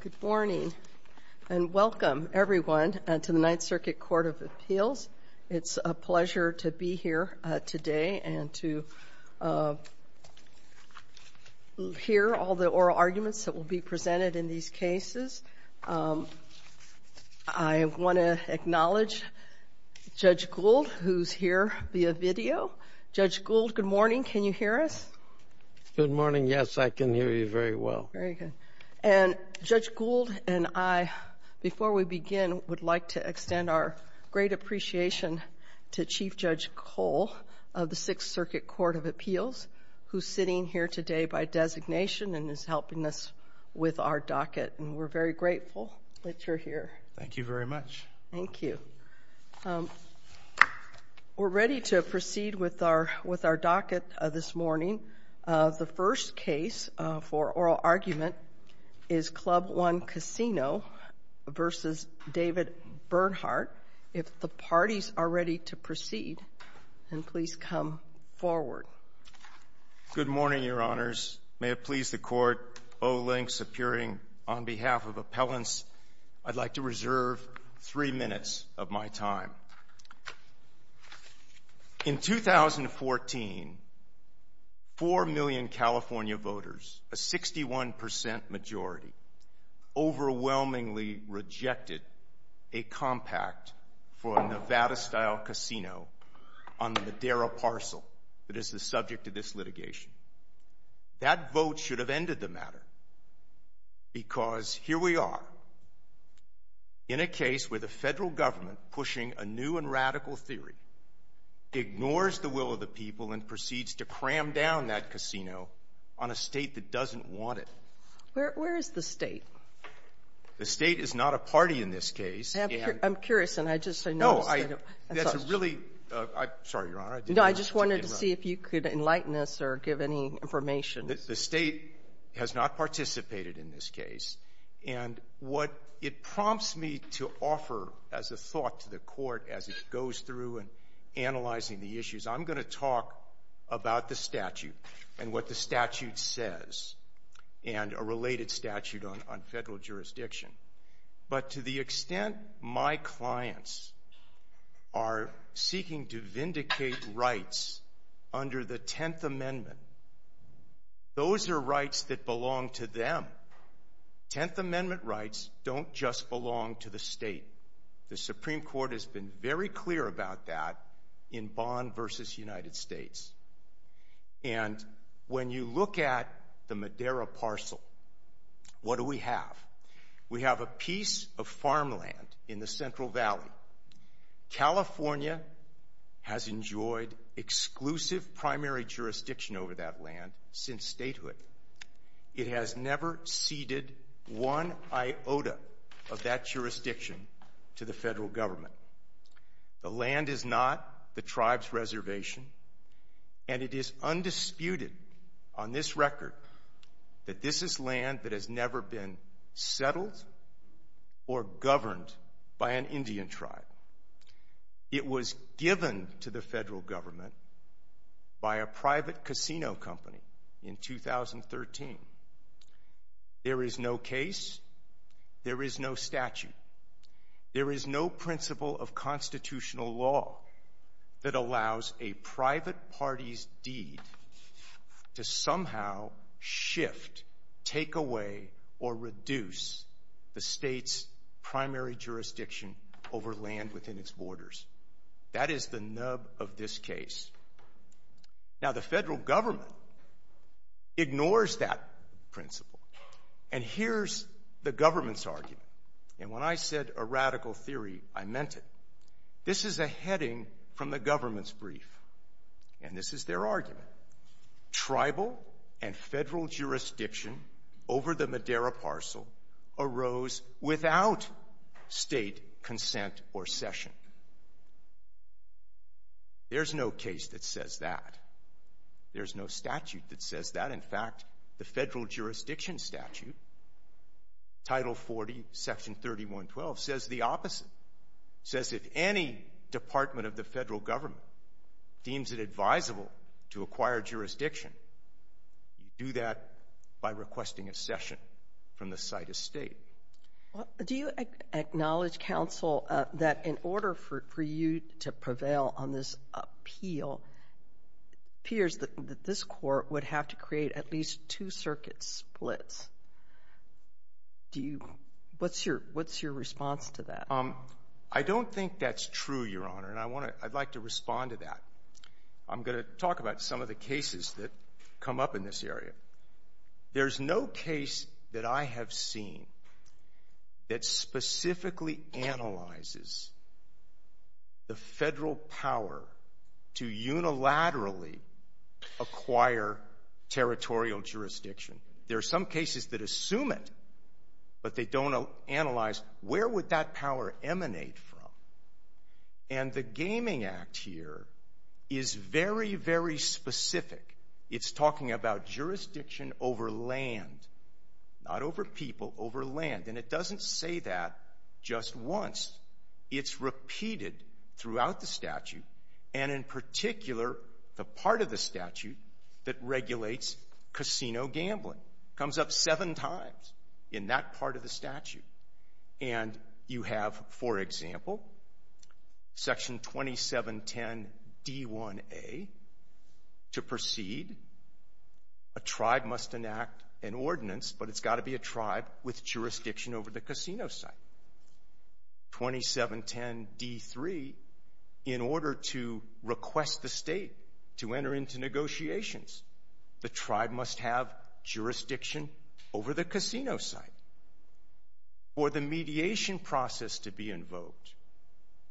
Good morning and welcome, everyone, to the Ninth Circuit Court of Appeals. It's a pleasure to be here today and to hear all the oral arguments that will be presented in these cases. I want to acknowledge Judge Gould, who's here via video. Judge Gould, good morning. Can you hear us? Good morning. Yes, I can hear you very well. Very good. And Judge Gould and I, before we begin, would like to extend our great appreciation to Chief Judge Cole of the Sixth Circuit Court of Appeals, who's sitting here today by designation and is helping us with our docket. And we're very grateful that you're here. Thank you very much. Thank you. I'd like to begin this morning. The first case for oral argument is Club One Casino v. David Bernhardt. If the parties are ready to proceed, then please come forward. Good morning, Your Honors. May it please the Court, Olinx appearing on behalf of appellants, I'd like to reserve three minutes of my time. In 2014, four million California voters, a 61% majority, overwhelmingly rejected a compact for a Nevada-style casino on the Madera parcel that is the subject of this litigation. That vote should have ended the matter, because here we are in a case where the Federal government, pushing a new and radical theory, ignores the will of the people and proceeds to cram down that casino on a State that doesn't want it. Where is the State? The State is not a party in this case. I'm curious, and I just noticed that it was. No. That's a really — sorry, Your Honor. No. I just wanted to see if you could enlighten us or give any information. The State has not participated in this case. And what it prompts me to offer as a thought to the Court as it goes through and analyzing the issues, I'm going to talk about the statute and what the statute says and a related statute on Federal jurisdiction. But to the extent my clients are seeking to vindicate rights under the Tenth Amendment, those are rights that belong to them. Tenth Amendment rights don't just belong to the State. The Supreme Court has been very clear about that in Bond v. United States. And when you look at the Madera parcel, what do we have? We have a piece of farmland in the Central Valley. Now, California has enjoyed exclusive primary jurisdiction over that land since statehood. It has never ceded one iota of that jurisdiction to the Federal Government. The land is not the tribe's reservation. And it is undisputed on this record that this is land that has never been settled or governed by an Indian tribe. It was given to the Federal Government by a private casino company in 2013. There is no case. There is no statute. There is no principle of constitutional law that allows a private party's deed to somehow shift, take away, or reduce the State's primary jurisdiction over land within its borders. That is the nub of this case. Now the Federal Government ignores that principle. And here's the Government's argument. And when I said a radical theory, I meant it. This is a heading from the Government's brief. And this is their argument. Tribal and Federal jurisdiction over the Madera parcel arose without State consent or session. There's no case that says that. There's no statute that says that. In fact, the Federal Jurisdiction Statute, Title 40, Section 3112, says the opposite. It says if any department of the Federal Government deems it advisable to acquire jurisdiction, you do that by requesting a session from the site estate. Do you acknowledge, Counsel, that in order for you to prevail on this appeal, it appears that this Court would have to create at least two circuit splits? What's your response to that? I don't think that's true, Your Honor, and I'd like to respond to that. I'm going to talk about some of the cases that come up in this area. There's no case that I have seen that specifically analyzes the Federal power to unilaterally acquire territorial jurisdiction. There are some cases that assume it, but they don't analyze where would that power emanate from. And the Gaming Act here is very, very specific. It's talking about jurisdiction over land, not over people, over land, and it doesn't say that just once. It's repeated throughout the statute, and in particular, the part of the statute that says gambling comes up seven times in that part of the statute. And you have, for example, Section 2710d1a, to proceed, a tribe must enact an ordinance, but it's got to be a tribe with jurisdiction over the casino site. 2710d3, in order to request the state to enter into negotiations, the tribe must have jurisdiction over the casino site. For the mediation process to be invoked,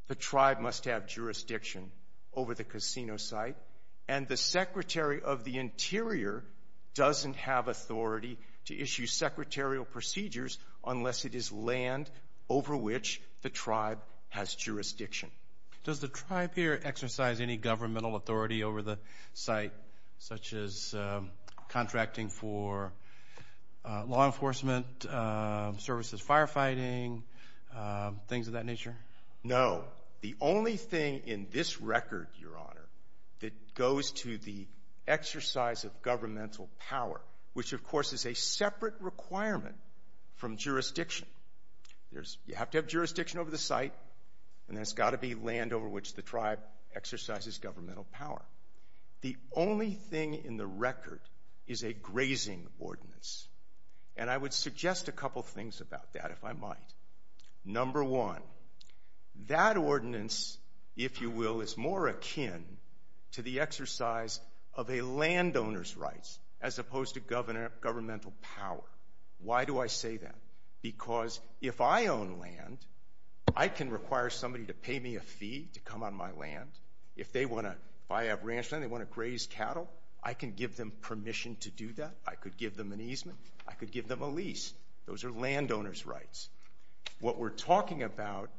the tribe must have jurisdiction over the casino site, and the Secretary of the Interior doesn't have authority to issue secretarial procedures unless it is land over which the tribe has jurisdiction. Does the tribe here exercise any governmental authority over the site, such as contracting for law enforcement, services, firefighting, things of that nature? No. The only thing in this record, Your Honor, that goes to the exercise of governmental power, which of course is a separate requirement from jurisdiction. You have to have jurisdiction over the site, and then it's got to be land over which the tribe exercises governmental power. The only thing in the record is a grazing ordinance, and I would suggest a couple things about that, if I might. Number one, that ordinance, if you will, is more akin to the exercise of a landowner's rights as opposed to governmental power. Why do I say that? Because if I own land, I can require somebody to pay me a fee to come on my land. If I have ranch land, they want to graze cattle, I can give them permission to do that. I could give them an easement. I could give them a lease. Those are landowner's rights. What we're talking about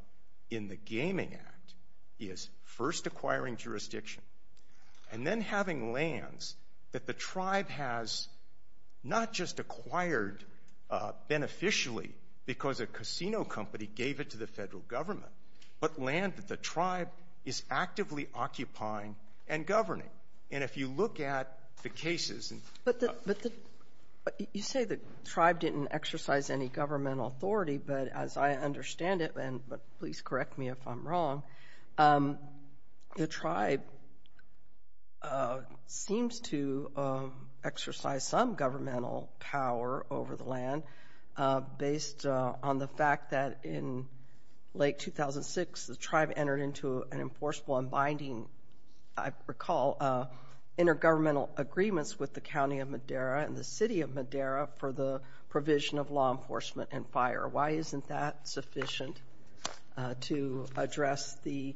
in the Gaming Act is first acquiring jurisdiction and then having lands that the tribe has not just acquired beneficially because a casino company gave it to the Federal Government, but land that the tribe is actively occupying and governing. And if you look at the cases and the ---- But the ---- you say the tribe didn't exercise any governmental authority, but as I understand it, and please correct me if I'm wrong, the tribe seems to exercise some governmental power over the land based on the fact that in late 2006, the tribe entered into an enforceable and binding, I recall, intergovernmental agreements with the County of Madera and the City of Madera for the provision of law enforcement and fire. Why isn't that sufficient to address the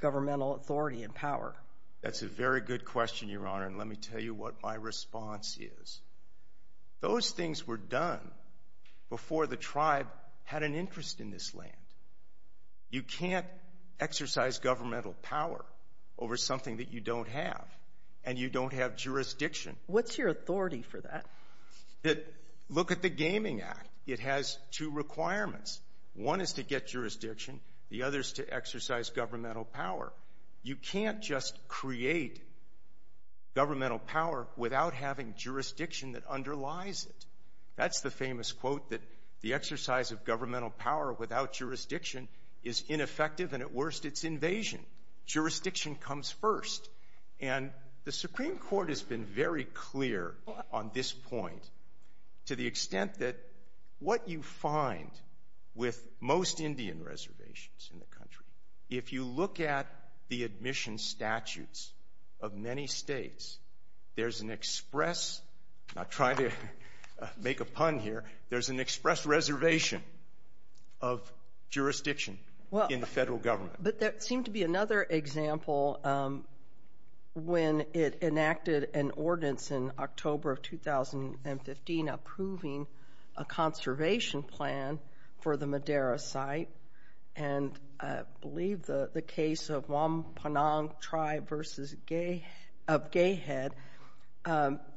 governmental authority and power? That's a very good question, Your Honor, and let me tell you what my response is. Those things were done before the tribe had an interest in this land. You can't exercise governmental power over something that you don't have, and you don't have jurisdiction. What's your authority for that? Look at the Gaming Act. It has two requirements. One is to get jurisdiction. The other is to exercise governmental power. You can't just create governmental power without having jurisdiction that underlies it. That's the famous quote that the exercise of governmental power without jurisdiction is ineffective, and at worst, it's invasion. Jurisdiction comes first, and the Supreme Court has been very clear on this point to the extent that what you find with most Indian reservations in the country, if you look at the admission statutes of many states, there's an express, not trying to make a pun here, there's an express reservation of jurisdiction in the federal government. But there seemed to be another example when it enacted an ordinance in October of 2015 approving a conservation plan for the Madera site, and I believe the case of Walnut Creek and the Panang tribe of Gay Head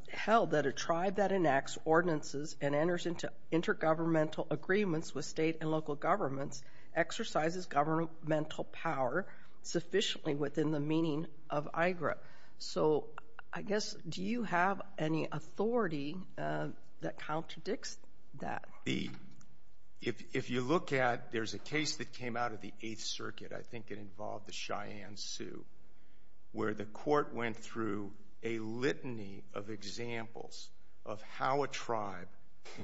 held that a tribe that enacts ordinances and enters into intergovernmental agreements with state and local governments exercises governmental power sufficiently within the meaning of IGRA. So I guess, do you have any authority that contradicts that? If you look at, there's a case that came out of the Eighth Circuit, I think it involved the Cheyenne Sioux, where the court went through a litany of examples of how a tribe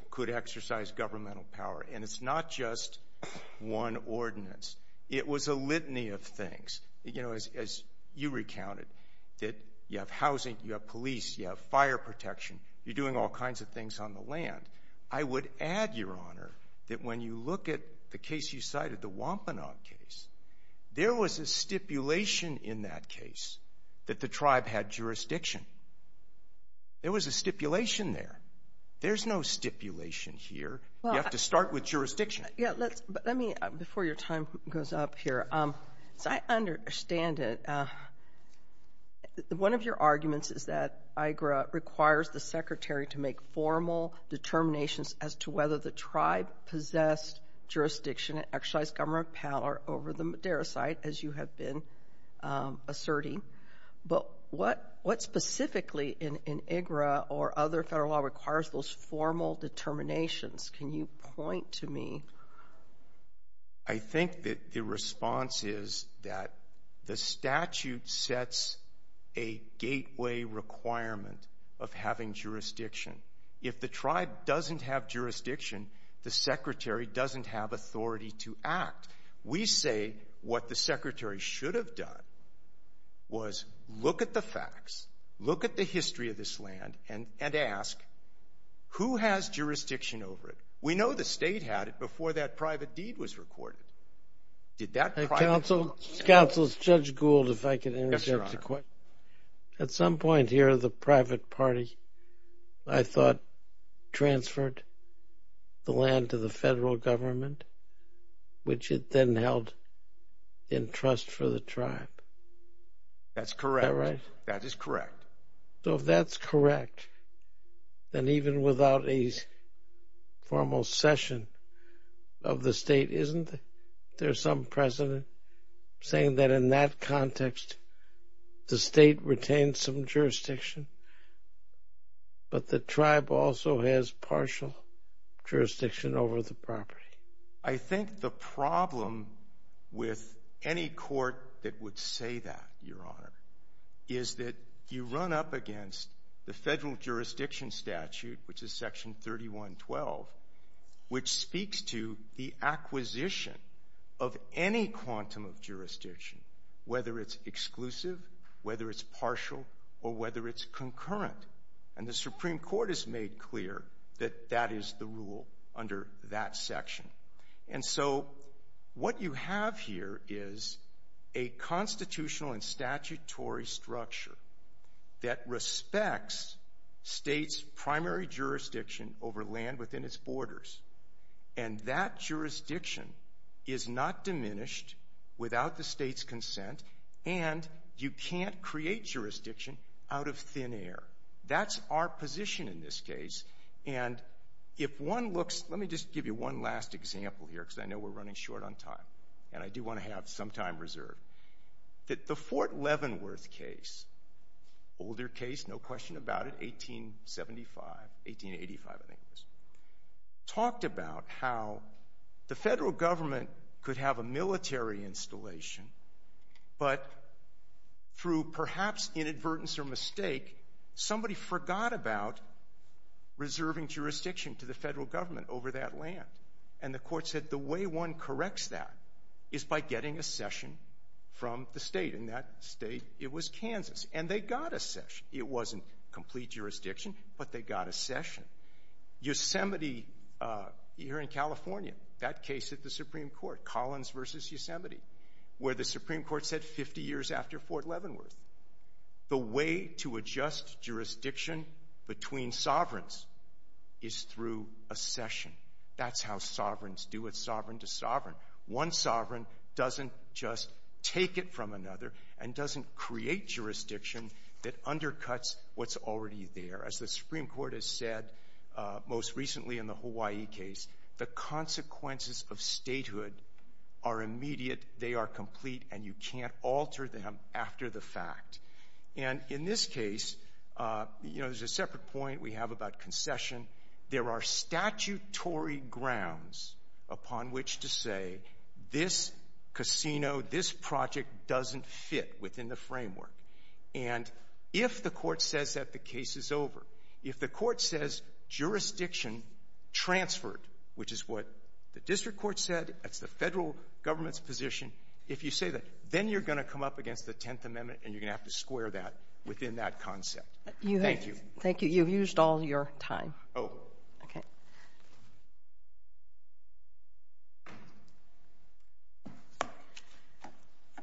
could exercise governmental power, and it's not just one ordinance. It was a litany of things. As you recounted, that you have housing, you have police, you have fire protection, you're doing all kinds of things on the land. I would add, Your Honor, that when you look at the case you cited, the Wampanoag case, there was a stipulation in that case that the tribe had jurisdiction. There was a stipulation there. There's no stipulation here. You have to start with jurisdiction. Yeah, let's, let me, before your time goes up here, as I understand it, one of your arguments is that IGRA requires the Secretary to make formal determinations as to whether the tribe possessed jurisdiction and exercised governmental power over the Madera site, as you have been asserting. But what specifically in IGRA or other federal law requires those formal determinations? Can you point to me? I think that the response is that the statute sets a gateway requirement of having jurisdiction. If the tribe doesn't have jurisdiction, the Secretary doesn't have authority to act. We say what the Secretary should have done was look at the facts, look at the history of this land, and ask, who has jurisdiction over it? We know the state had it before that private deed was recorded. Did that private deed? Counsel, is Judge Gould, if I can interject a question? Yes, Your Honor. At some point here, the private party, I thought, transferred the land to the federal government, which it then held in trust for the tribe. That's correct. Is that right? That is correct. So if that's correct, then even without a formal session of the state, isn't there some precedent saying that in that context, the state retained some jurisdiction, but the tribe also has partial jurisdiction over the property? I think the problem with any court that would say that, Your Honor, is that you run up against the federal jurisdiction statute, which is Section 3112, which speaks to the acquisition of any quantum of jurisdiction, whether it's exclusive, whether it's partial, or whether it's concurrent. And the Supreme Court has made clear that that is the rule under that section. And so what you have here is a constitutional and statutory structure that respects states' primary jurisdiction over land within its borders. And that jurisdiction is not diminished without the state's consent, and you can't create jurisdiction out of thin air. That's our position in this case. And if one looks, let me just give you one last example here, because I know we're running short on time, and I do want to have some time reserved. The Fort Leavenworth case, older case, no question about it, 1875, 1885 I think it was, talked about how the federal government could have a military installation, but through perhaps inadvertence or mistake, somebody forgot about reserving jurisdiction to the federal government over that land. And the court said the way one corrects that is by getting a cession from the state. And that state, it was Kansas. And they got a cession. It wasn't complete jurisdiction, but they got a cession. Yosemite here in California, that case at the Supreme Court, Collins v. Yosemite, where the Supreme Court said 50 years after Fort Leavenworth, the way to adjust jurisdiction between sovereigns is through a cession. That's how sovereigns do it, sovereign to sovereign. One sovereign doesn't just take it from another and doesn't create jurisdiction that undercuts what's already there. As the Supreme Court has said most recently in the Hawaii case, the consequences of statehood are immediate, they are complete, and you can't alter them after the fact. And in this case, you know, there's a separate point we have about concession. There are statutory grounds upon which to say this casino, this project doesn't fit within the framework. And if the court says that the case is over, if the court says jurisdiction transferred, which is what the district court said, that's the federal government's position, if you say that, then you're going to come up against the Tenth Amendment, and you're going to have to square that within that concept. Thank you. Thank you. You've used all your time. Oh. Okay.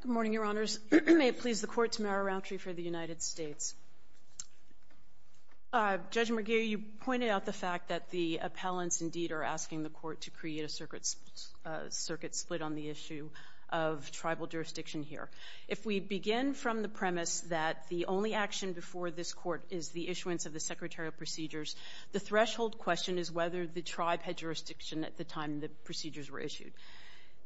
Good morning, Your Honors. May it please the Court to move our roundtree for the United States. Judge McGee, you pointed out the fact that the appellants indeed are asking the Court to create a circuit split on the issue of tribal jurisdiction here. If we begin from the premise that the only action before this Court is the issuance of the secretarial procedures, the threshold question is whether the tribe had jurisdiction at the time the procedures were issued.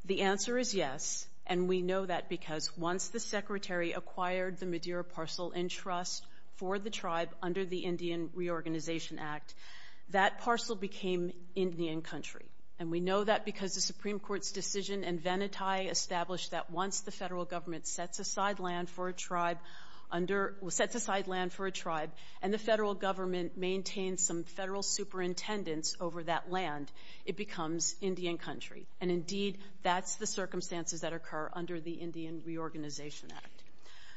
The answer is yes, and we know that because once the Secretary acquired the Madeira parcel in trust for the tribe under the Indian Reorganization Act, that parcel became Indian country. And we know that because the Supreme Court's decision in Venati established that once the federal government sets aside land for a tribe, and the federal government maintains some federal superintendents over that land, it becomes Indian country. And indeed, that's the circumstances that occur under the Indian Reorganization Act.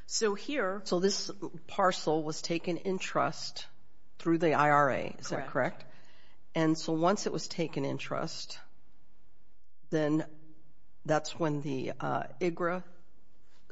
So here... So this parcel was taken in trust through the IRA, is that correct? Correct. And so once it was taken in trust, then that's when the IGRA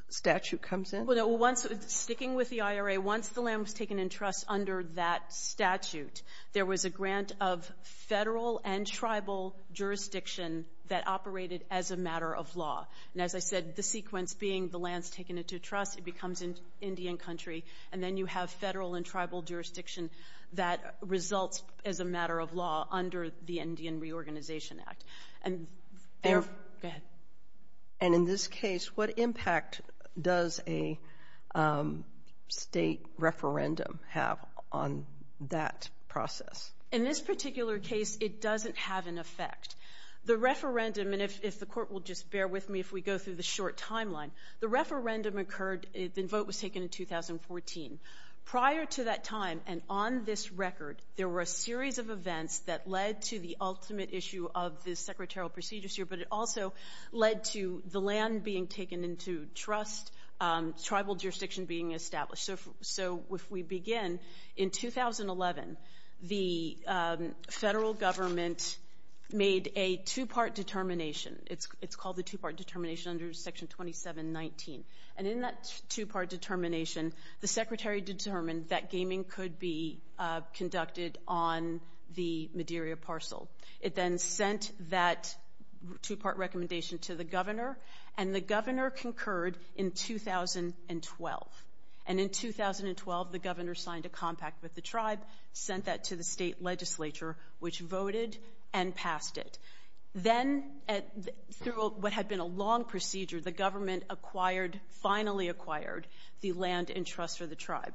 statute comes in? Well, no. Once... Sticking with the IRA, once the land was taken in trust under that statute, there was a grant of federal and tribal jurisdiction that operated as a matter of law. And as I said, the sequence being the land's taken into trust, it becomes Indian country, and then you have federal and tribal jurisdiction that results as a matter of law under the Indian Reorganization Act. And... There... Go ahead. And in this case, what impact does a state referendum have on that process? In this particular case, it doesn't have an effect. The referendum, and if the Court will just bear with me if we go through the short timeline, the referendum occurred, the vote was taken in 2014. Prior to that time, and on this record, there were a series of events that led to the ultimate issue of this secretarial procedures here, but it also led to the land being taken into trust, tribal jurisdiction being established. So if we begin in 2011, the federal government made a two-part determination. It's called the two-part determination under Section 2719. And in that two-part determination, the secretary determined that gaming could be conducted on the Madeira parcel. It then sent that two-part recommendation to the governor, and the governor concurred in 2012. And in 2012, the governor signed a compact with the tribe, sent that to the state legislature, which voted and passed it. Then, through what had been a long procedure, the government acquired, finally acquired, the land in trust for the tribe.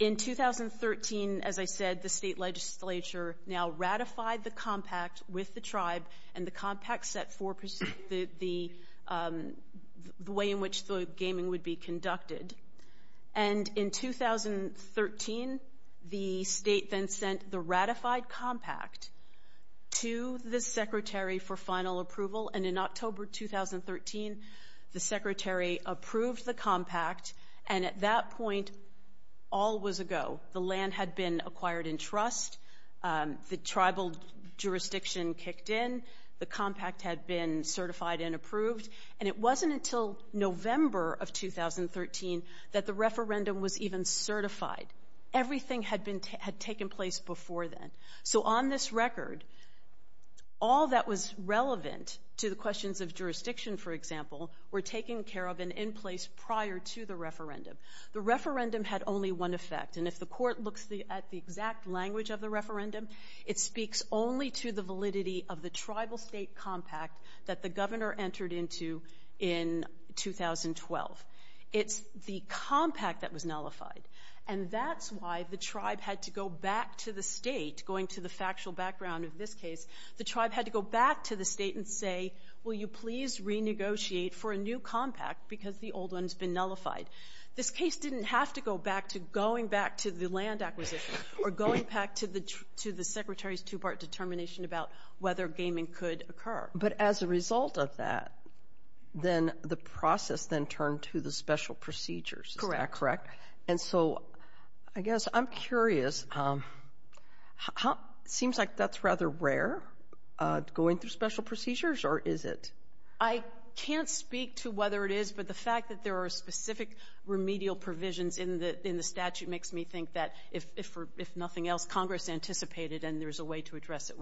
In 2013, as I said, the state legislature now ratified the compact with the tribe, and the compact set the way in which the gaming would be conducted. And in 2013, the state then sent the ratified compact to the secretary for final approval, and in October 2013, the secretary approved the compact, and at that point, all was a go. The land had been acquired in trust, the tribal jurisdiction kicked in, the compact had been certified and approved. And it wasn't until November of 2013 that the referendum was even certified. Everything had been, had taken place before then. So on this record, all that was relevant to the questions of jurisdiction, for example, were taken care of and in place prior to the referendum. The referendum had only one effect, and if the court looks at the exact language of the referendum, it speaks only to the validity of the tribal state compact that the governor entered into in 2012. It's the compact that was nullified. And that's why the tribe had to go back to the state, going to the factual background of this case, the tribe had to go back to the state and say, will you please renegotiate for a new compact, because the old one's been nullified. This case didn't have to go back to going back to the land acquisition, or going back to the secretary's two-part determination about whether gaming could occur. But as a result of that, then the process then turned to the special procedures. Is that correct? Correct. And so I guess I'm curious, how, seems like that's rather rare, going through special procedures, or is it? I can't speak to whether it is, but the fact that there are specific remedial provisions in the statute makes me think that if nothing else, Congress anticipated and there's a way to address it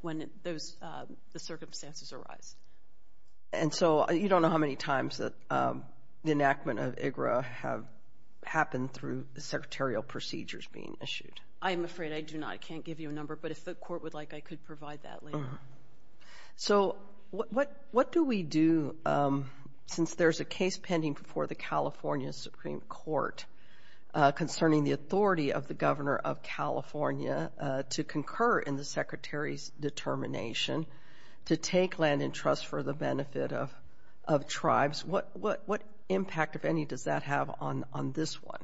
when the circumstances arise. And so you don't know how many times that the enactment of IGRA have happened through the secretarial procedures being issued? I'm afraid I do not. I can't give you a number, but if the court would like, I could provide that later. So what do we do, since there's a case pending before the California Supreme Court concerning the authority of the governor of California to concur in the secretary's determination to take land in trust for the benefit of tribes? What impact, if any, does that have on this one?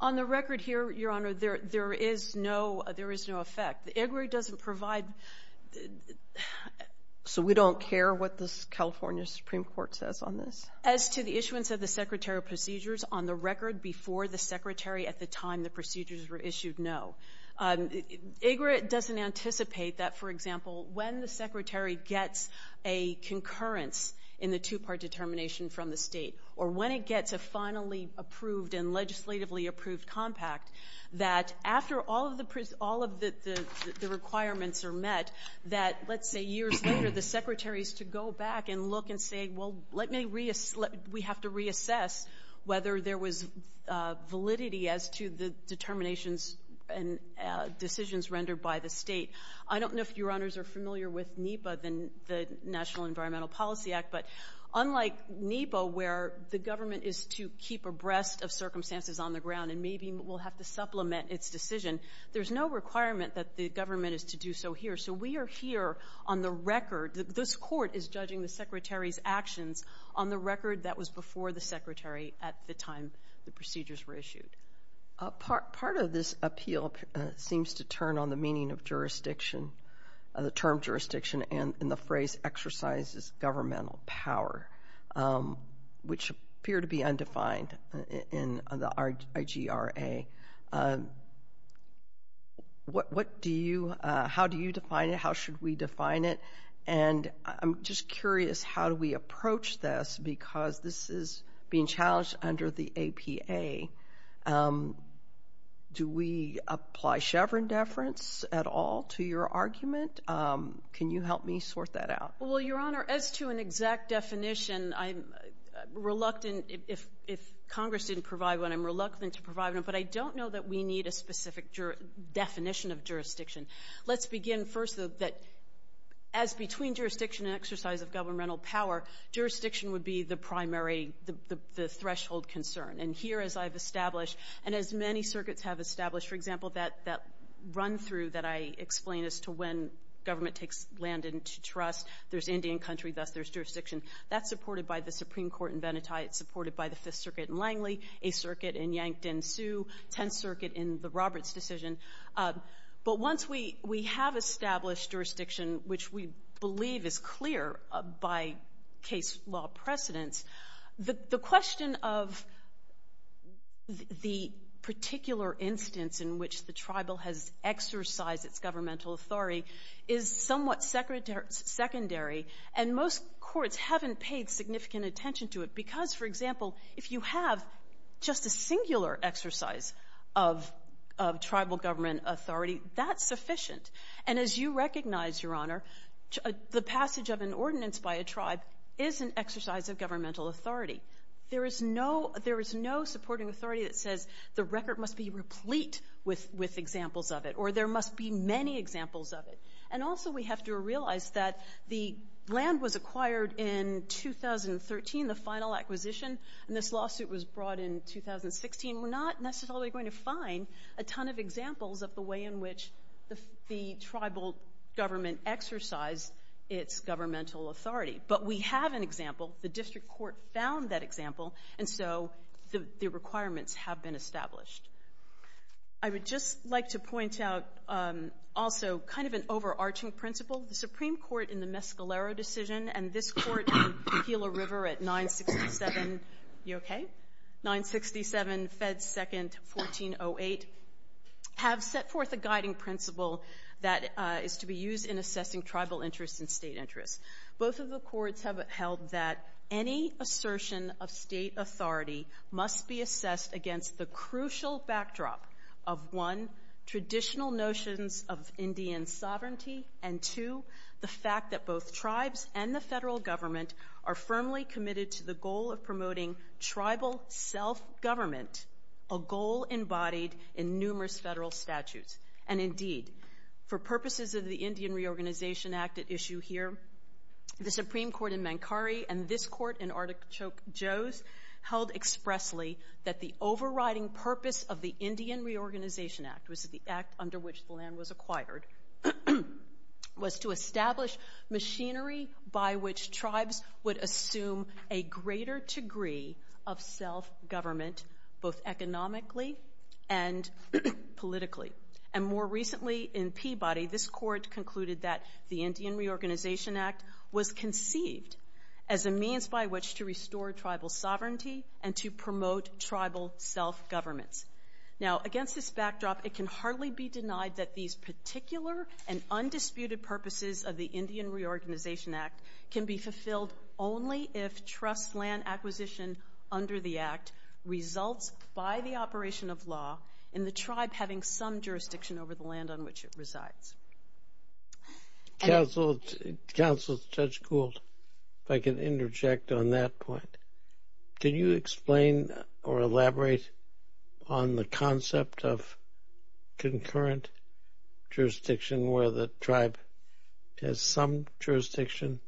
On the record here, Your Honor, there is no effect. The IGRA doesn't provide... So we don't care what the California Supreme Court says on this? As to the issuance of the secretarial procedures, on the record, before the secretary at the time the procedures were issued, no. IGRA doesn't anticipate that, for example, when the secretary gets a concurrence in the two-part determination from the State or when it gets a finally approved and legislatively approved compact, that after all of the requirements are met, that, let's say, years later, the secretaries to go back and look and say, well, let me reassess, we have to reassess whether there was validity as to the determinations and decisions rendered by the State. I don't know if Your Honors are familiar with NEPA, the National Environmental Policy Act, but unlike NEPA, where the government is to keep abreast of circumstances on the ground and maybe will have to supplement its decision, there's no requirement that the government is to do so here. So we are here on the record. This Court is judging the secretary's actions on the record that was before the secretary at the time the procedures were issued. Part of this appeal seems to turn on the meaning of jurisdiction, the term jurisdiction, and the phrase exercises governmental power, which appear to be undefined in the IGRA. What do you – how do you define it? How should we define it? And I'm just curious, how do we approach this? Because this is being challenged under the APA. Do we apply Chevron deference at all to your argument? Can you help me sort that out? Well, Your Honor, as to an exact definition, I'm reluctant – if Congress didn't provide one, I'm reluctant to provide one, but I don't know that we need a specific definition of jurisdiction. Let's begin first, though, that as between jurisdiction and exercise of governmental power, jurisdiction would be the primary – the threshold concern. And here, as I've established, and as many circuits have established, for example, that run-through that I explain as to when government takes land into trust, there's Indian country, thus there's jurisdiction. That's supported by the Supreme Court in Venetie. It's supported by the Fifth Circuit in Langley, Eighth Circuit in Yankton, Sioux, Tenth Circuit in the Roberts decision. But once we have established jurisdiction, which we believe is clear by case law precedence, the question of the particular instance in which the tribal has exercised its governmental authority is somewhat secondary, and most courts haven't paid significant attention to it, because, for example, if you have just a singular exercise of tribal government authority, that's sufficient. And as you recognize, Your Honor, the passage of an ordinance by a tribe is an exercise of governmental authority. There is no – there is no supporting authority that says the record must be replete with examples of it, or there must be many examples of it. And also, we have to realize that the land was acquired in 2013, the final acquisition, and this lawsuit was brought in 2016, we're not necessarily going to find a ton of examples of the way in which the tribal government exercised its governmental authority. But we have an example. The district court found that example, and so the requirements have been established. I would just like to point out also kind of an overarching principle. The Supreme Court in the Mescalero decision, and this Court in Tequila River at 967 – you okay? – 967, Fed 2nd, 1408, have set forth a guiding principle that is to be used in assessing tribal interests and state interests. Both of the courts have held that any assertion of state authority must be assessed against the crucial backdrop of, one, traditional notions of Indian sovereignty, and two, the fact that both tribes and the federal government are firmly committed to the goal of promoting tribal self-government, a goal embodied in numerous federal statutes. And indeed, for purposes of the Indian Reorganization Act at issue here, the Supreme Court in Mankari and this Court in Artichoke Joe's held expressly that the overriding purpose of the Indian Reorganization Act, which is the act under which the land was acquired, was to establish machinery by which tribes would assume a greater degree of self-government, both economically and politically. And more recently in Peabody, this Court concluded that the Indian Reorganization Act was conceived as a means by which to restore tribal sovereignty and to promote tribal self-governments. Now against this backdrop, it can hardly be denied that these particular and undisputed purposes of the Indian Reorganization Act can be fulfilled only if trust land acquisition under the Act results by the operation of law in the tribe having some jurisdiction over the land on which it resides. Counsel, Judge Gould, if I can interject on that point, can you explain or elaborate on the concept of concurrent jurisdiction where the tribe has some jurisdiction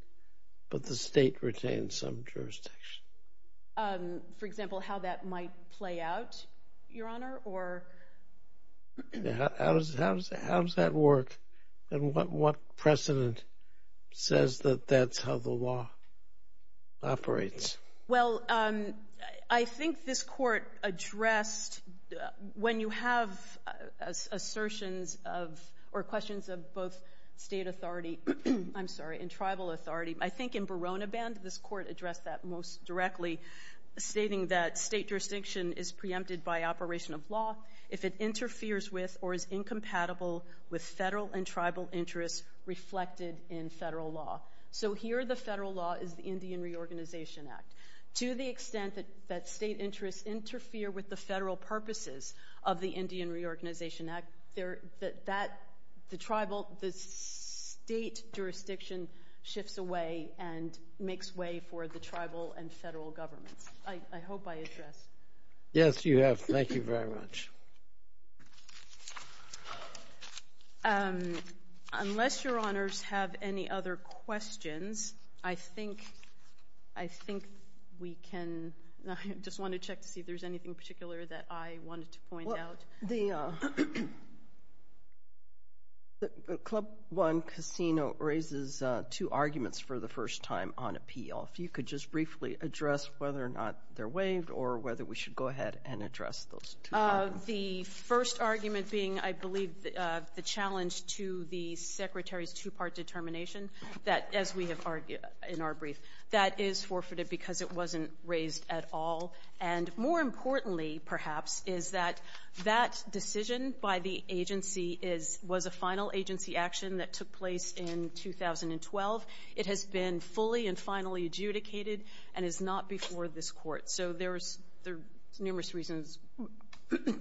but the state retains some jurisdiction? For example, how that might play out, Your Honor, or? How does that work, and what precedent says that that's how the law operates? Well, I think this Court addressed, when you have assertions of, or questions of both state authority, I'm sorry, and tribal authority, I think in Barona Band, this Court addressed that most directly, stating that state jurisdiction is preempted by operation of law if it interferes with or is incompatible with federal and tribal interests reflected in federal law. So here the federal law is the Indian Reorganization Act. To the extent that state interests interfere with the federal purposes of the Indian Reorganization Act, the tribal, the state jurisdiction shifts away and makes way for the tribal and federal governments. I hope I addressed. Yes, you have. Thank you very much. Unless Your Honors have any other questions, I think we can, I just want to check to see if there's anything particular that I wanted to point out. The Club One Casino raises two arguments for the first time on appeal. If you could just briefly address whether or not they're waived, or whether we should go ahead and address those two. The first argument being, I believe, the challenge to the Secretary's two-part determination that, as we have argued in our brief, that is forfeited because it wasn't raised at all. And more importantly, perhaps, is that that decision by the agency is, was a final agency action that took place in 2012. It has been fully and finally adjudicated and is not before this Court. So there's numerous reasons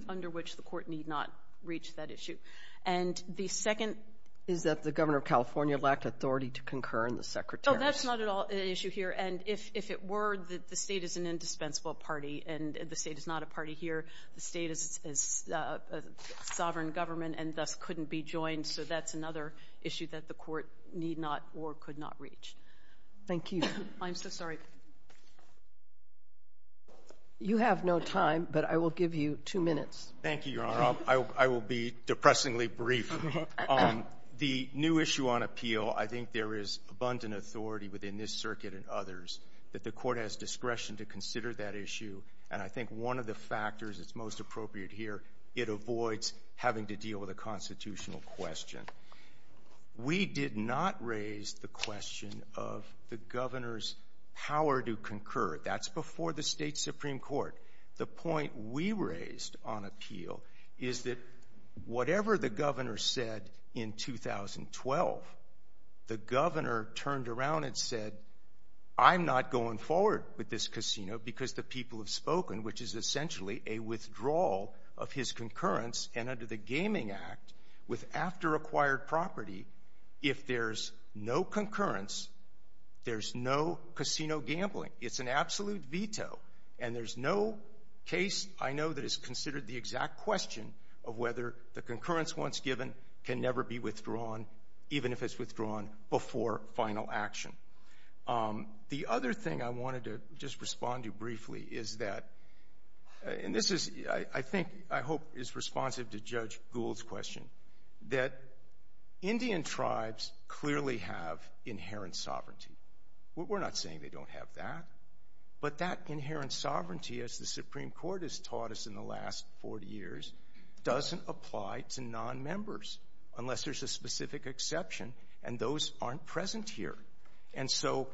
under which the Court need not reach that issue. And the second — Is that the Governor of California lacked authority to concur in the Secretary's — Oh, that's not at all an issue here. And if it were, the State is an indispensable party, and the State is not a party here. The State is a sovereign government and thus couldn't be joined. So that's another issue that the Court need not or could not reach. Thank you. I'm so sorry. You have no time, but I will give you two minutes. Thank you, Your Honor. I will be depressingly brief. The new issue on appeal, I think there is abundant authority within this circuit and others that the Court has discretion to consider that issue. And I think one of the factors that's most appropriate here, it avoids having to deal with a constitutional question. We did not raise the question of the Governor's power to concur. That's before the State Supreme Court. The point we raised on appeal is that whatever the Governor said in 2012, the Governor turned around and said, I'm not going forward with this casino because the people have spoken, which is essentially a withdrawal of his concurrence. And under the Gaming Act, with after acquired property, if there's no concurrence, there's no casino gambling. It's an absolute veto. And there's no case, I know, that is considered the exact question of whether the concurrence once given can never be withdrawn, even if it's withdrawn before final action. The other thing I wanted to just respond to briefly is that, and this is, I think, I hope is responsive to Judge Gould's question, that Indian tribes clearly have inherent sovereignty. We're not saying they don't have that, but that inherent sovereignty, as the Supreme Court has taught us in the last 40 years, doesn't apply to nonmembers, unless there's a specific exception, and those aren't present here. And so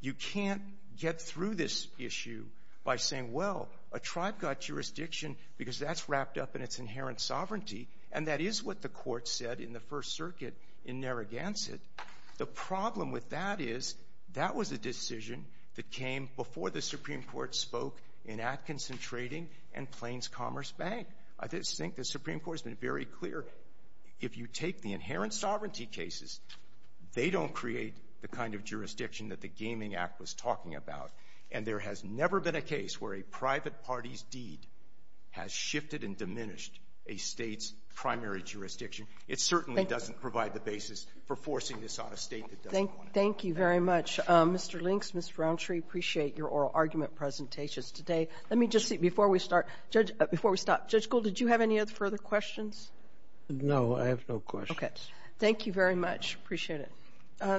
you can't get through this issue by saying, well, a tribe got jurisdiction because that's wrapped up in its inherent sovereignty, and that is what the Court said in the First Circuit in Narragansett. The problem with that is, that was a decision that came before the Supreme Court spoke in Atkinson Trading and Plains Commerce Bank. I just think the Supreme Court has been very clear. If you take the inherent sovereignty cases, they don't create the kind of jurisdiction that the Gaming Act was talking about. And there has never been a case where a private party's deed has shifted and diminished a state's primary jurisdiction. It certainly doesn't provide the basis for forcing this on a state that doesn't want it. Thank you very much. Mr. Links, Mr. Rountree, appreciate your oral argument presentations today. Let me just see, before we start — before we stop, Judge Gould, did you have any other further questions? No, I have no questions. Okay. Thank you very much. Appreciate it.